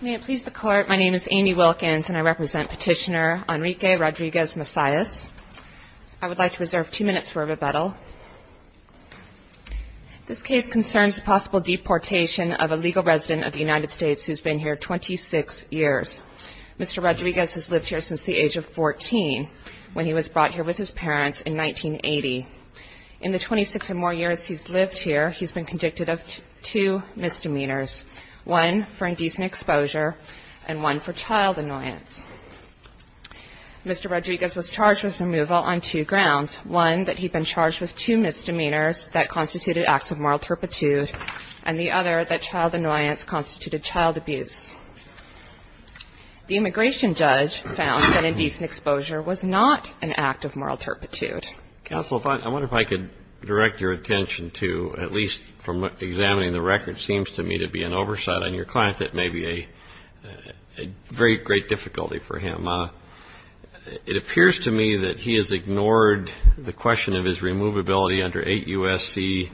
May it please the Court, my name is Amy Wilkins and I represent Petitioner Enrique Rodriguez-Macias. I would like to reserve two minutes for rebuttal. This case concerns the possible deportation of a legal resident of the United States who has been here 26 years. Mr. Rodriguez has lived here since the age of 14, when he was brought here with his parents in 1980. In the 26 or more years he's lived here, he's been convicted of two misdemeanors, one for indecent exposure and one for child annoyance. Mr. Rodriguez was charged with removal on two grounds, one that he'd been charged with two misdemeanors that constituted acts of moral turpitude and the other that child annoyance constituted child abuse. The immigration judge found that indecent exposure was not an act of moral turpitude. Counsel, I wonder if I could direct your attention to, at least from examining the record, it seems to me to be an oversight on your client that may be a very great difficulty for him. It appears to me that he has ignored the question of his removability under 8 U.S.C.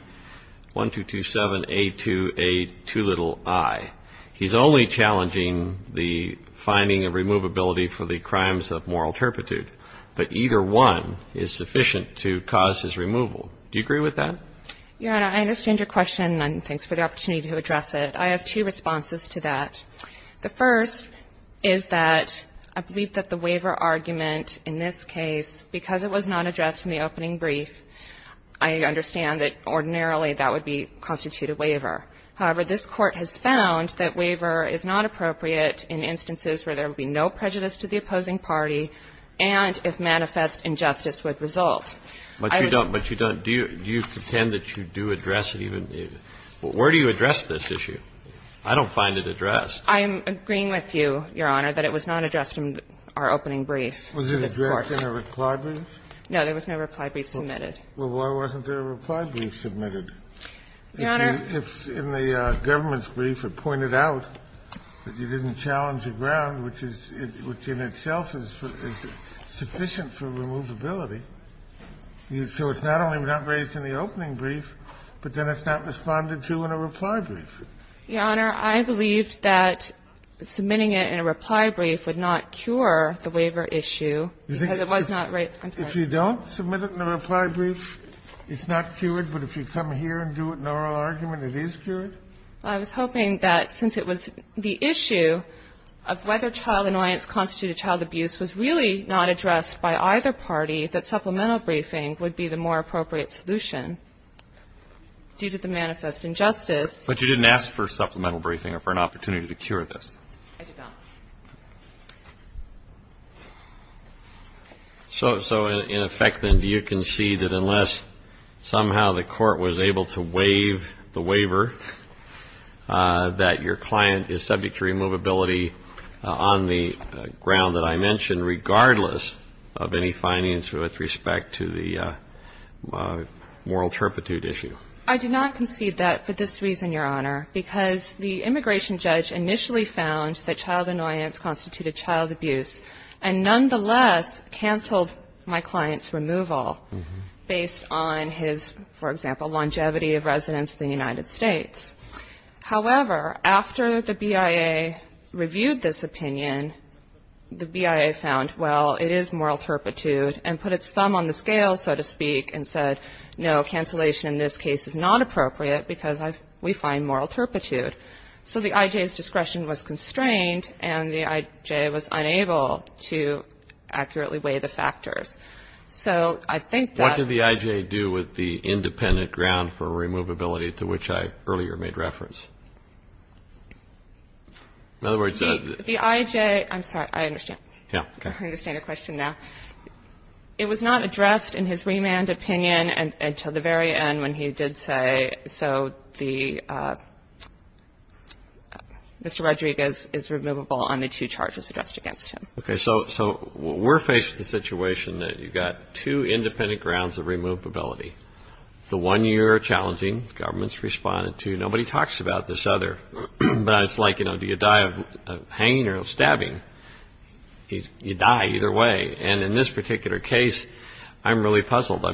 1227-A28-i. He's only challenging the finding of removability for the crimes of moral turpitude, but either one is sufficient to cause his removal. Do you agree with that? Your Honor, I understand your question, and thanks for the opportunity to address it. I have two responses to that. The first is that I believe that the waiver argument in this case, because it was not addressed in the opening brief, I understand that ordinarily that would be constituted waiver. However, this Court has found that waiver is not appropriate in instances where there would be no prejudice to the opposing party and if manifest injustice would result. But you don't do you contend that you do address it even if, where do you address this issue? I don't find it addressed. I'm agreeing with you, Your Honor, that it was not addressed in our opening brief of this Court. Was it addressed in a reply brief? No, there was no reply brief submitted. Well, why wasn't there a reply brief submitted? Your Honor. If in the government's brief it pointed out that you didn't challenge the ground, which is, which in itself is sufficient for removability, so it's not only not raised in the opening brief, but then it's not responded to in a reply brief. Your Honor, I believe that submitting it in a reply brief would not cure the waiver issue because it was not raised. If you don't submit it in a reply brief, it's not cured. But if you come here and do it in oral argument, it is cured? I was hoping that since it was the issue of whether child annoyance constituted child abuse was really not addressed by either party, that supplemental briefing would be the more appropriate solution due to the manifest injustice. But you didn't ask for supplemental briefing or for an opportunity to cure this. I did not. So in effect, then, do you concede that unless somehow the case is solved in an oral argument, the court was able to waive the waiver, that your client is subject to removability on the ground that I mentioned, regardless of any findings with respect to the moral turpitude issue? I do not concede that for this reason, Your Honor, because the immigration judge initially found that child annoyance constituted child abuse and nonetheless canceled my client's removal based on his, for example, longevity of residence in the United States. However, after the BIA reviewed this opinion, the BIA found, well, it is moral turpitude and put its thumb on the scale, so to speak, and said, no, cancellation in this case is not appropriate because we find moral turpitude. So the IJ's discretion was constrained, and the IJ was unable to accurately weigh the factors. So I think that What did the IJ do with the independent ground for removability to which I earlier made reference? The IJ, I'm sorry, I understand. I understand your question now. It was not addressed in his remand opinion until the very end when he did say, so the Mr. Rodriguez is removable on the two charges addressed against him. So we're faced with the situation that you've got two independent grounds of removability. The one you're challenging, the government's responded to, nobody talks about this other. But it's like, do you die of pain or of stabbing? You die either way. And in this particular case, I'm really puzzled.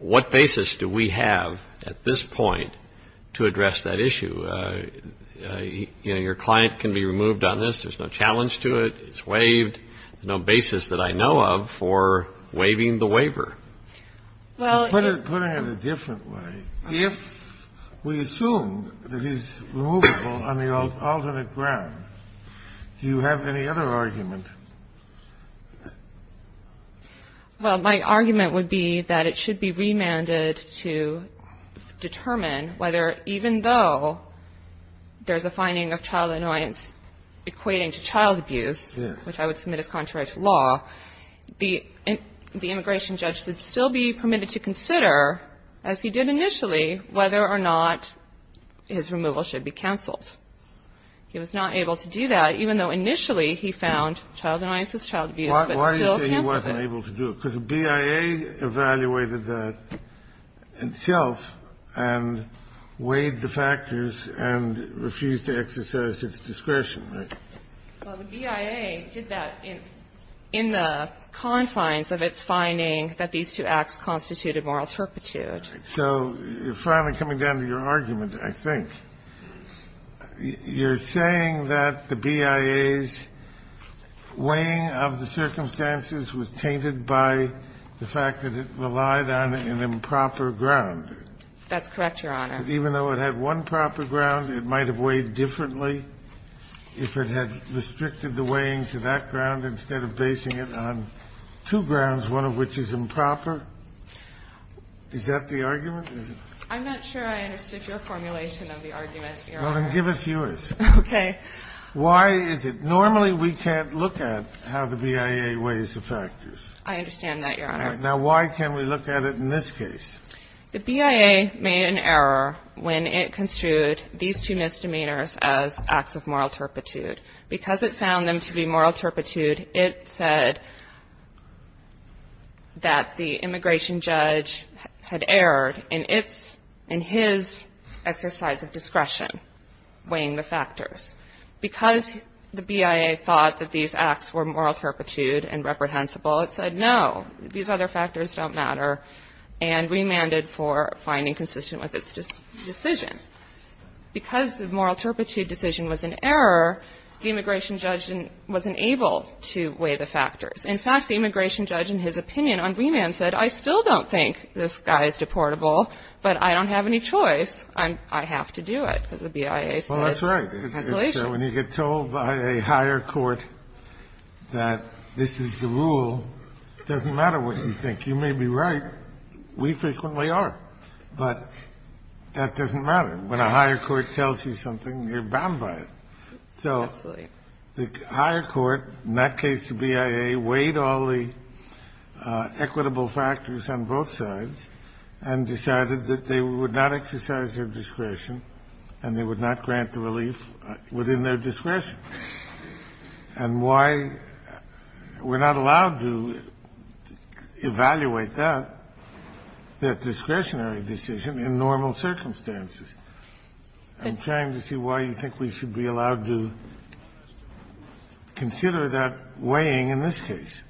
What basis do we have at this point to address that issue? Your client can be removed on this. There's no challenge to it. It's waived. There's no basis that I know of for waiving the waiver. Well, put it in a different way. If we assume that he's removable on the alternate ground, do you have any other argument? Well, my argument would be that it should be remanded to determine whether, even though there's a finding of child annoyance equating to child abuse, which I would submit is contrary to law, the immigration judge should still be permitted to consider, as he did initially, whether or not his removal should be canceled. He was not able to do that, even though initially he found child annoyance was child abuse, but still canceled it. Why do you say he wasn't able to do it? Because the BIA evaluated that itself and weighed the factors and refused to exercise its discretion, right? Well, the BIA did that in the confines of its finding that these two acts constituted moral turpitude. So you're finally coming down to your argument, I think. You're saying that the BIA's weighing of the circumstances was tainted by the fact that it relied on an improper ground? That's correct, Your Honor. Even though it had one proper ground, it might have weighed differently if it had restricted the weighing to that ground instead of basing it on two grounds, one of which is improper? Is that the argument? I'm not sure I understood your formulation of the argument, Your Honor. Well, then give us yours. Okay. Why is it? Normally we can't look at how the BIA weighs the factors. I understand that, Your Honor. Now, why can't we look at it in this case? The BIA made an error when it construed these two misdemeanors as acts of moral turpitude. Because it found them to be moral turpitude, it said that the immigration judge had erred in his exercise of discretion weighing the factors. Because the BIA thought that these acts were moral turpitude and reprehensible, it said, no, these other factors don't matter. And remanded for finding consistent with its decision. Because the moral turpitude decision was an error, the immigration judge wasn't able to weigh the factors. In fact, the immigration judge in his opinion on remand said, I still don't think this guy is deportable, but I don't have any choice. I have to do it. Because the BIA said. Well, that's right. So when you get told by a higher court that this is the rule, it doesn't matter what you think. You may be right. We frequently are. But that doesn't matter. When a higher court tells you something, you're bound by it. Absolutely. The higher court, in that case the BIA, weighed all the equitable factors on both sides and decided that they would not exercise their discretion and they would not grant the relief within their discretion. And why we're not allowed to evaluate that, that discretionary decision, in normal circumstances. I'm trying to see why you think we should be allowed to consider that weighing in this case.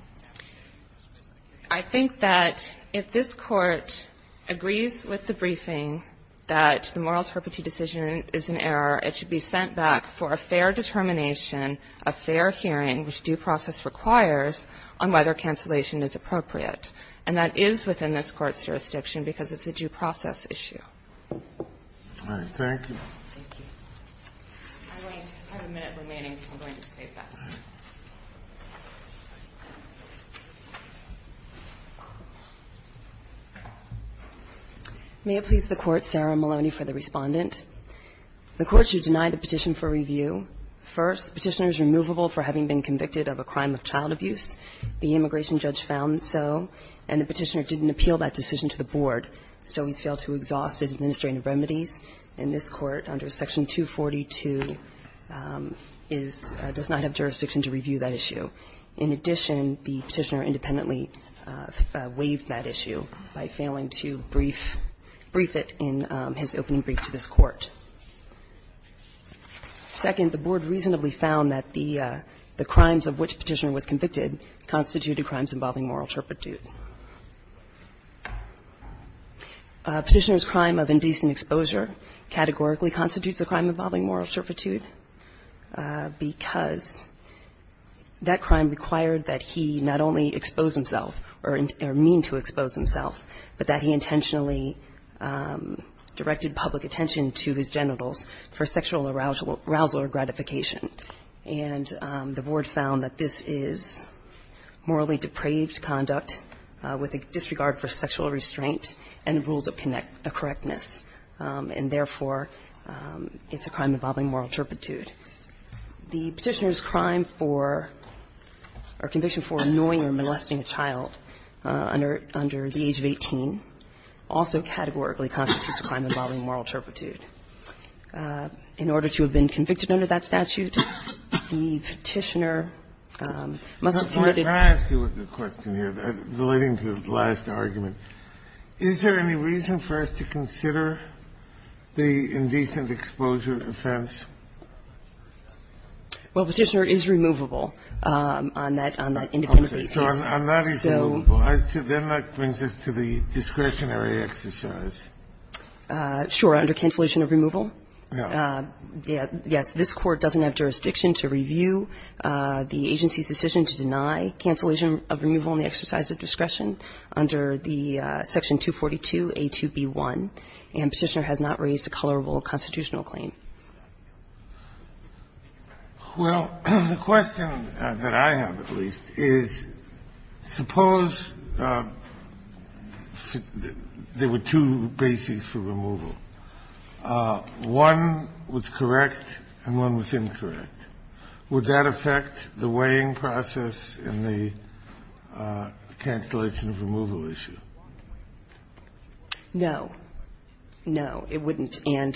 I think that if this Court agrees with the briefing that the moral turpitude decision is an error, it should be sent back for a fair determination, a fair hearing, which due process requires, on whether cancellation is appropriate. And that is within this Court's jurisdiction because it's a due process issue. All right. Thank you. Thank you. I have a minute remaining. I'm going to take that. All right. May it please the Court, Sarah Maloney for the Respondent. The Court should deny the petition for review. First, the petitioner is removable for having been convicted of a crime of child abuse. The immigration judge found so. And the petitioner didn't appeal that decision to the Board. So he's failed to exhaust his administrative remedies. And this Court, under Section 242, does not have jurisdiction to review that issue. In addition, the petitioner independently waived that issue by failing to brief it in his opening brief to this Court. Second, the Board reasonably found that the crimes of which the petitioner was convicted constituted crimes involving moral turpitude. A petitioner's crime of indecent exposure categorically constitutes a crime involving moral turpitude because that crime required that he not only expose himself or mean to expose himself, but that he intentionally directed public attention to his genitals for sexual arousal or gratification. And the Board found that this is morally depraved conduct, and that the petitioner was convicted of a crime involving moral turpitude with a disregard for sexual restraint and rules of correctness. And therefore, it's a crime involving moral turpitude. The petitioner's crime for or conviction for annoying or molesting a child under the age of 18 also categorically constitutes a crime involving moral turpitude. In order to have been convicted under that statute, the petitioner must have committed a crime involving moral turpitude. Kennedy. I'm going to ask you a question here, relating to the last argument. Is there any reason for us to consider the indecent exposure offense? Well, Petitioner is removable on that independent basis. So on that it's removable. Then that brings us to the discretionary exercise. Sure, under cancellation of removal. Yes. This Court doesn't have jurisdiction to review the agency's decision to deny cancellation of removal in the exercise of discretion under the section 242A2B1. And Petitioner has not raised a colorable constitutional claim. Well, the question that I have, at least, is suppose there were two bases for removal. One was correct and one was incorrect. Would that affect the weighing process in the cancellation of removal issue? No. No, it wouldn't. In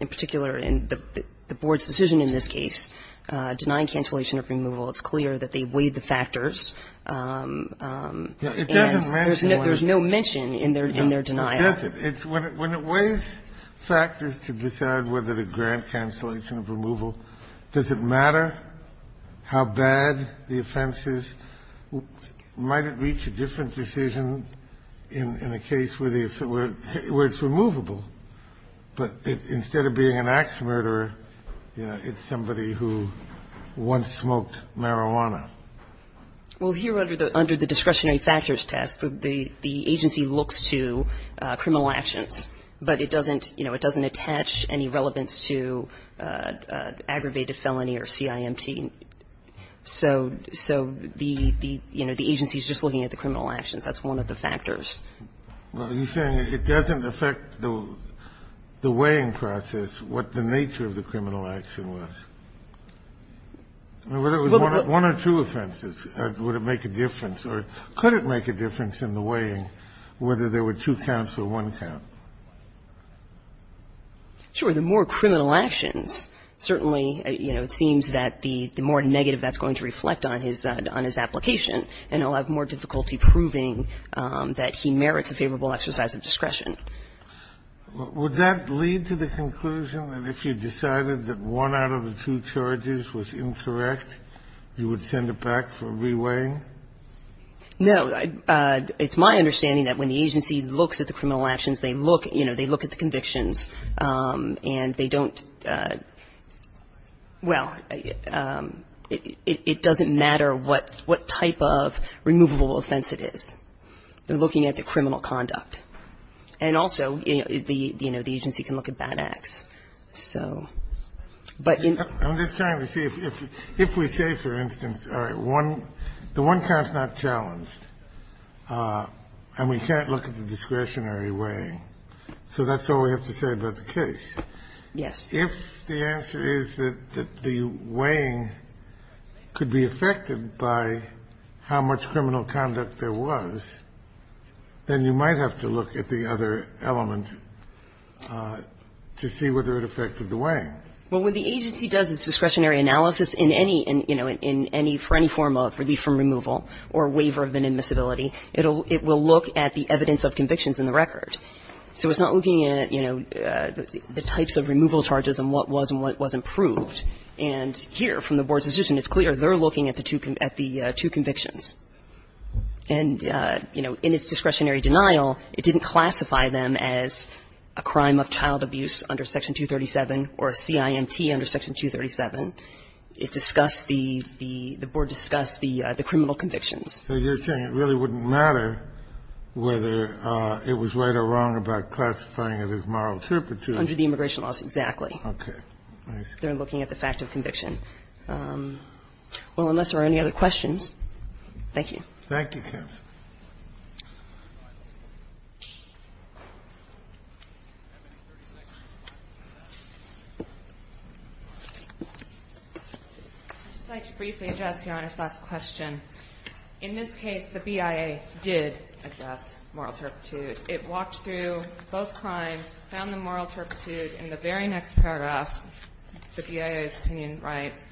particular, in the Board's decision in this case, denying cancellation of removal, it's clear that they weighed the factors. It doesn't mention one. There's no mention in their denial. It doesn't. When it weighs factors to decide whether to grant cancellation of removal, does it matter how bad the offense is? Might it reach a different decision in a case where it's removable? But instead of being an axe murderer, it's somebody who once smoked marijuana. Well, here under the discretionary factors test, the agency looks to criminal actions, but it doesn't attach any relevance to aggravated felony or CIMT. So the agency is just looking at the criminal actions. That's one of the factors. Well, you're saying it doesn't affect the weighing process, what the nature of the criminal action was? Whether it was one or two offenses, would it make a difference? Or could it make a difference in the weighing, whether there were two counts or one count? Sure. The more criminal actions, certainly, you know, it seems that the more negative that's going to reflect on his application, and he'll have more difficulty proving that he merits a favorable exercise of discretion. Would that lead to the conclusion that if you decided that one out of the two charges was incorrect, you would send it back for re-weighing? No. It's my understanding that when the agency looks at the criminal actions, they look at the convictions, and they don't, well, it doesn't matter what type of removable offense it is. They're looking at the criminal conduct. And also, you know, the agency can look at bad acts. So, but in the case of the one count, the one count is not challenged, and we can't look at the discretionary weighing. So that's all we have to say about the case. Yes. If the answer is that the weighing could be affected by how much criminal conduct there was, then you might have to look at the other element to see whether it affected the weighing. Well, when the agency does its discretionary analysis in any, you know, in any, for any form of relief from removal or waiver of inadmissibility, it will look at the evidence of convictions in the record. So it's not looking at, you know, the types of removal charges and what was and what was improved. And here, from the Board's decision, it's clear they're looking at the two convictions. And, you know, in its discretionary denial, it didn't classify them as a crime of child abuse under Section 237 or a CIMT under Section 237. It discussed the, the Board discussed the criminal convictions. So you're saying it really wouldn't matter whether it was right or wrong about classifying it as moral turpitude? Under the immigration laws, exactly. Okay. I see. They're looking at the fact of conviction. Well, unless there are any other questions, thank you. Thank you, counsel. I'd just like to briefly address Your Honor's last question. In this case, the BIA did address moral turpitude. It walked through both crimes, found the moral turpitude. In the very next paragraph, the BIA's opinion writes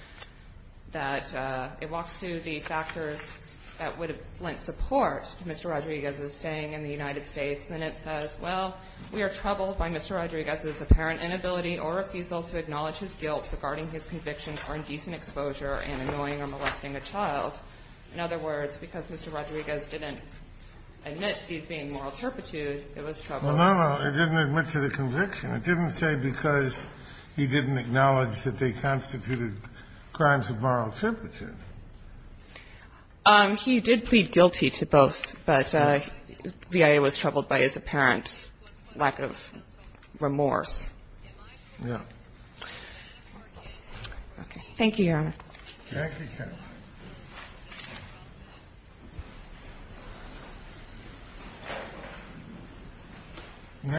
that it walks through the factors that would have lent support to Mr. Rodriguez's staying in the United States. And then it says, well, we are troubled by Mr. Rodriguez's apparent inability or refusal to acknowledge his guilt regarding his conviction for indecent exposure and annoying or molesting a child. In other words, because Mr. Rodriguez didn't admit to these being moral turpitude, it was troubled. Well, no, no. It didn't admit to the conviction. It didn't say because he didn't acknowledge that they constituted crimes of moral turpitude. He did plead guilty to both, but the BIA was troubled by his apparent lack of remorse. Yeah. Okay. Thank you, counsel.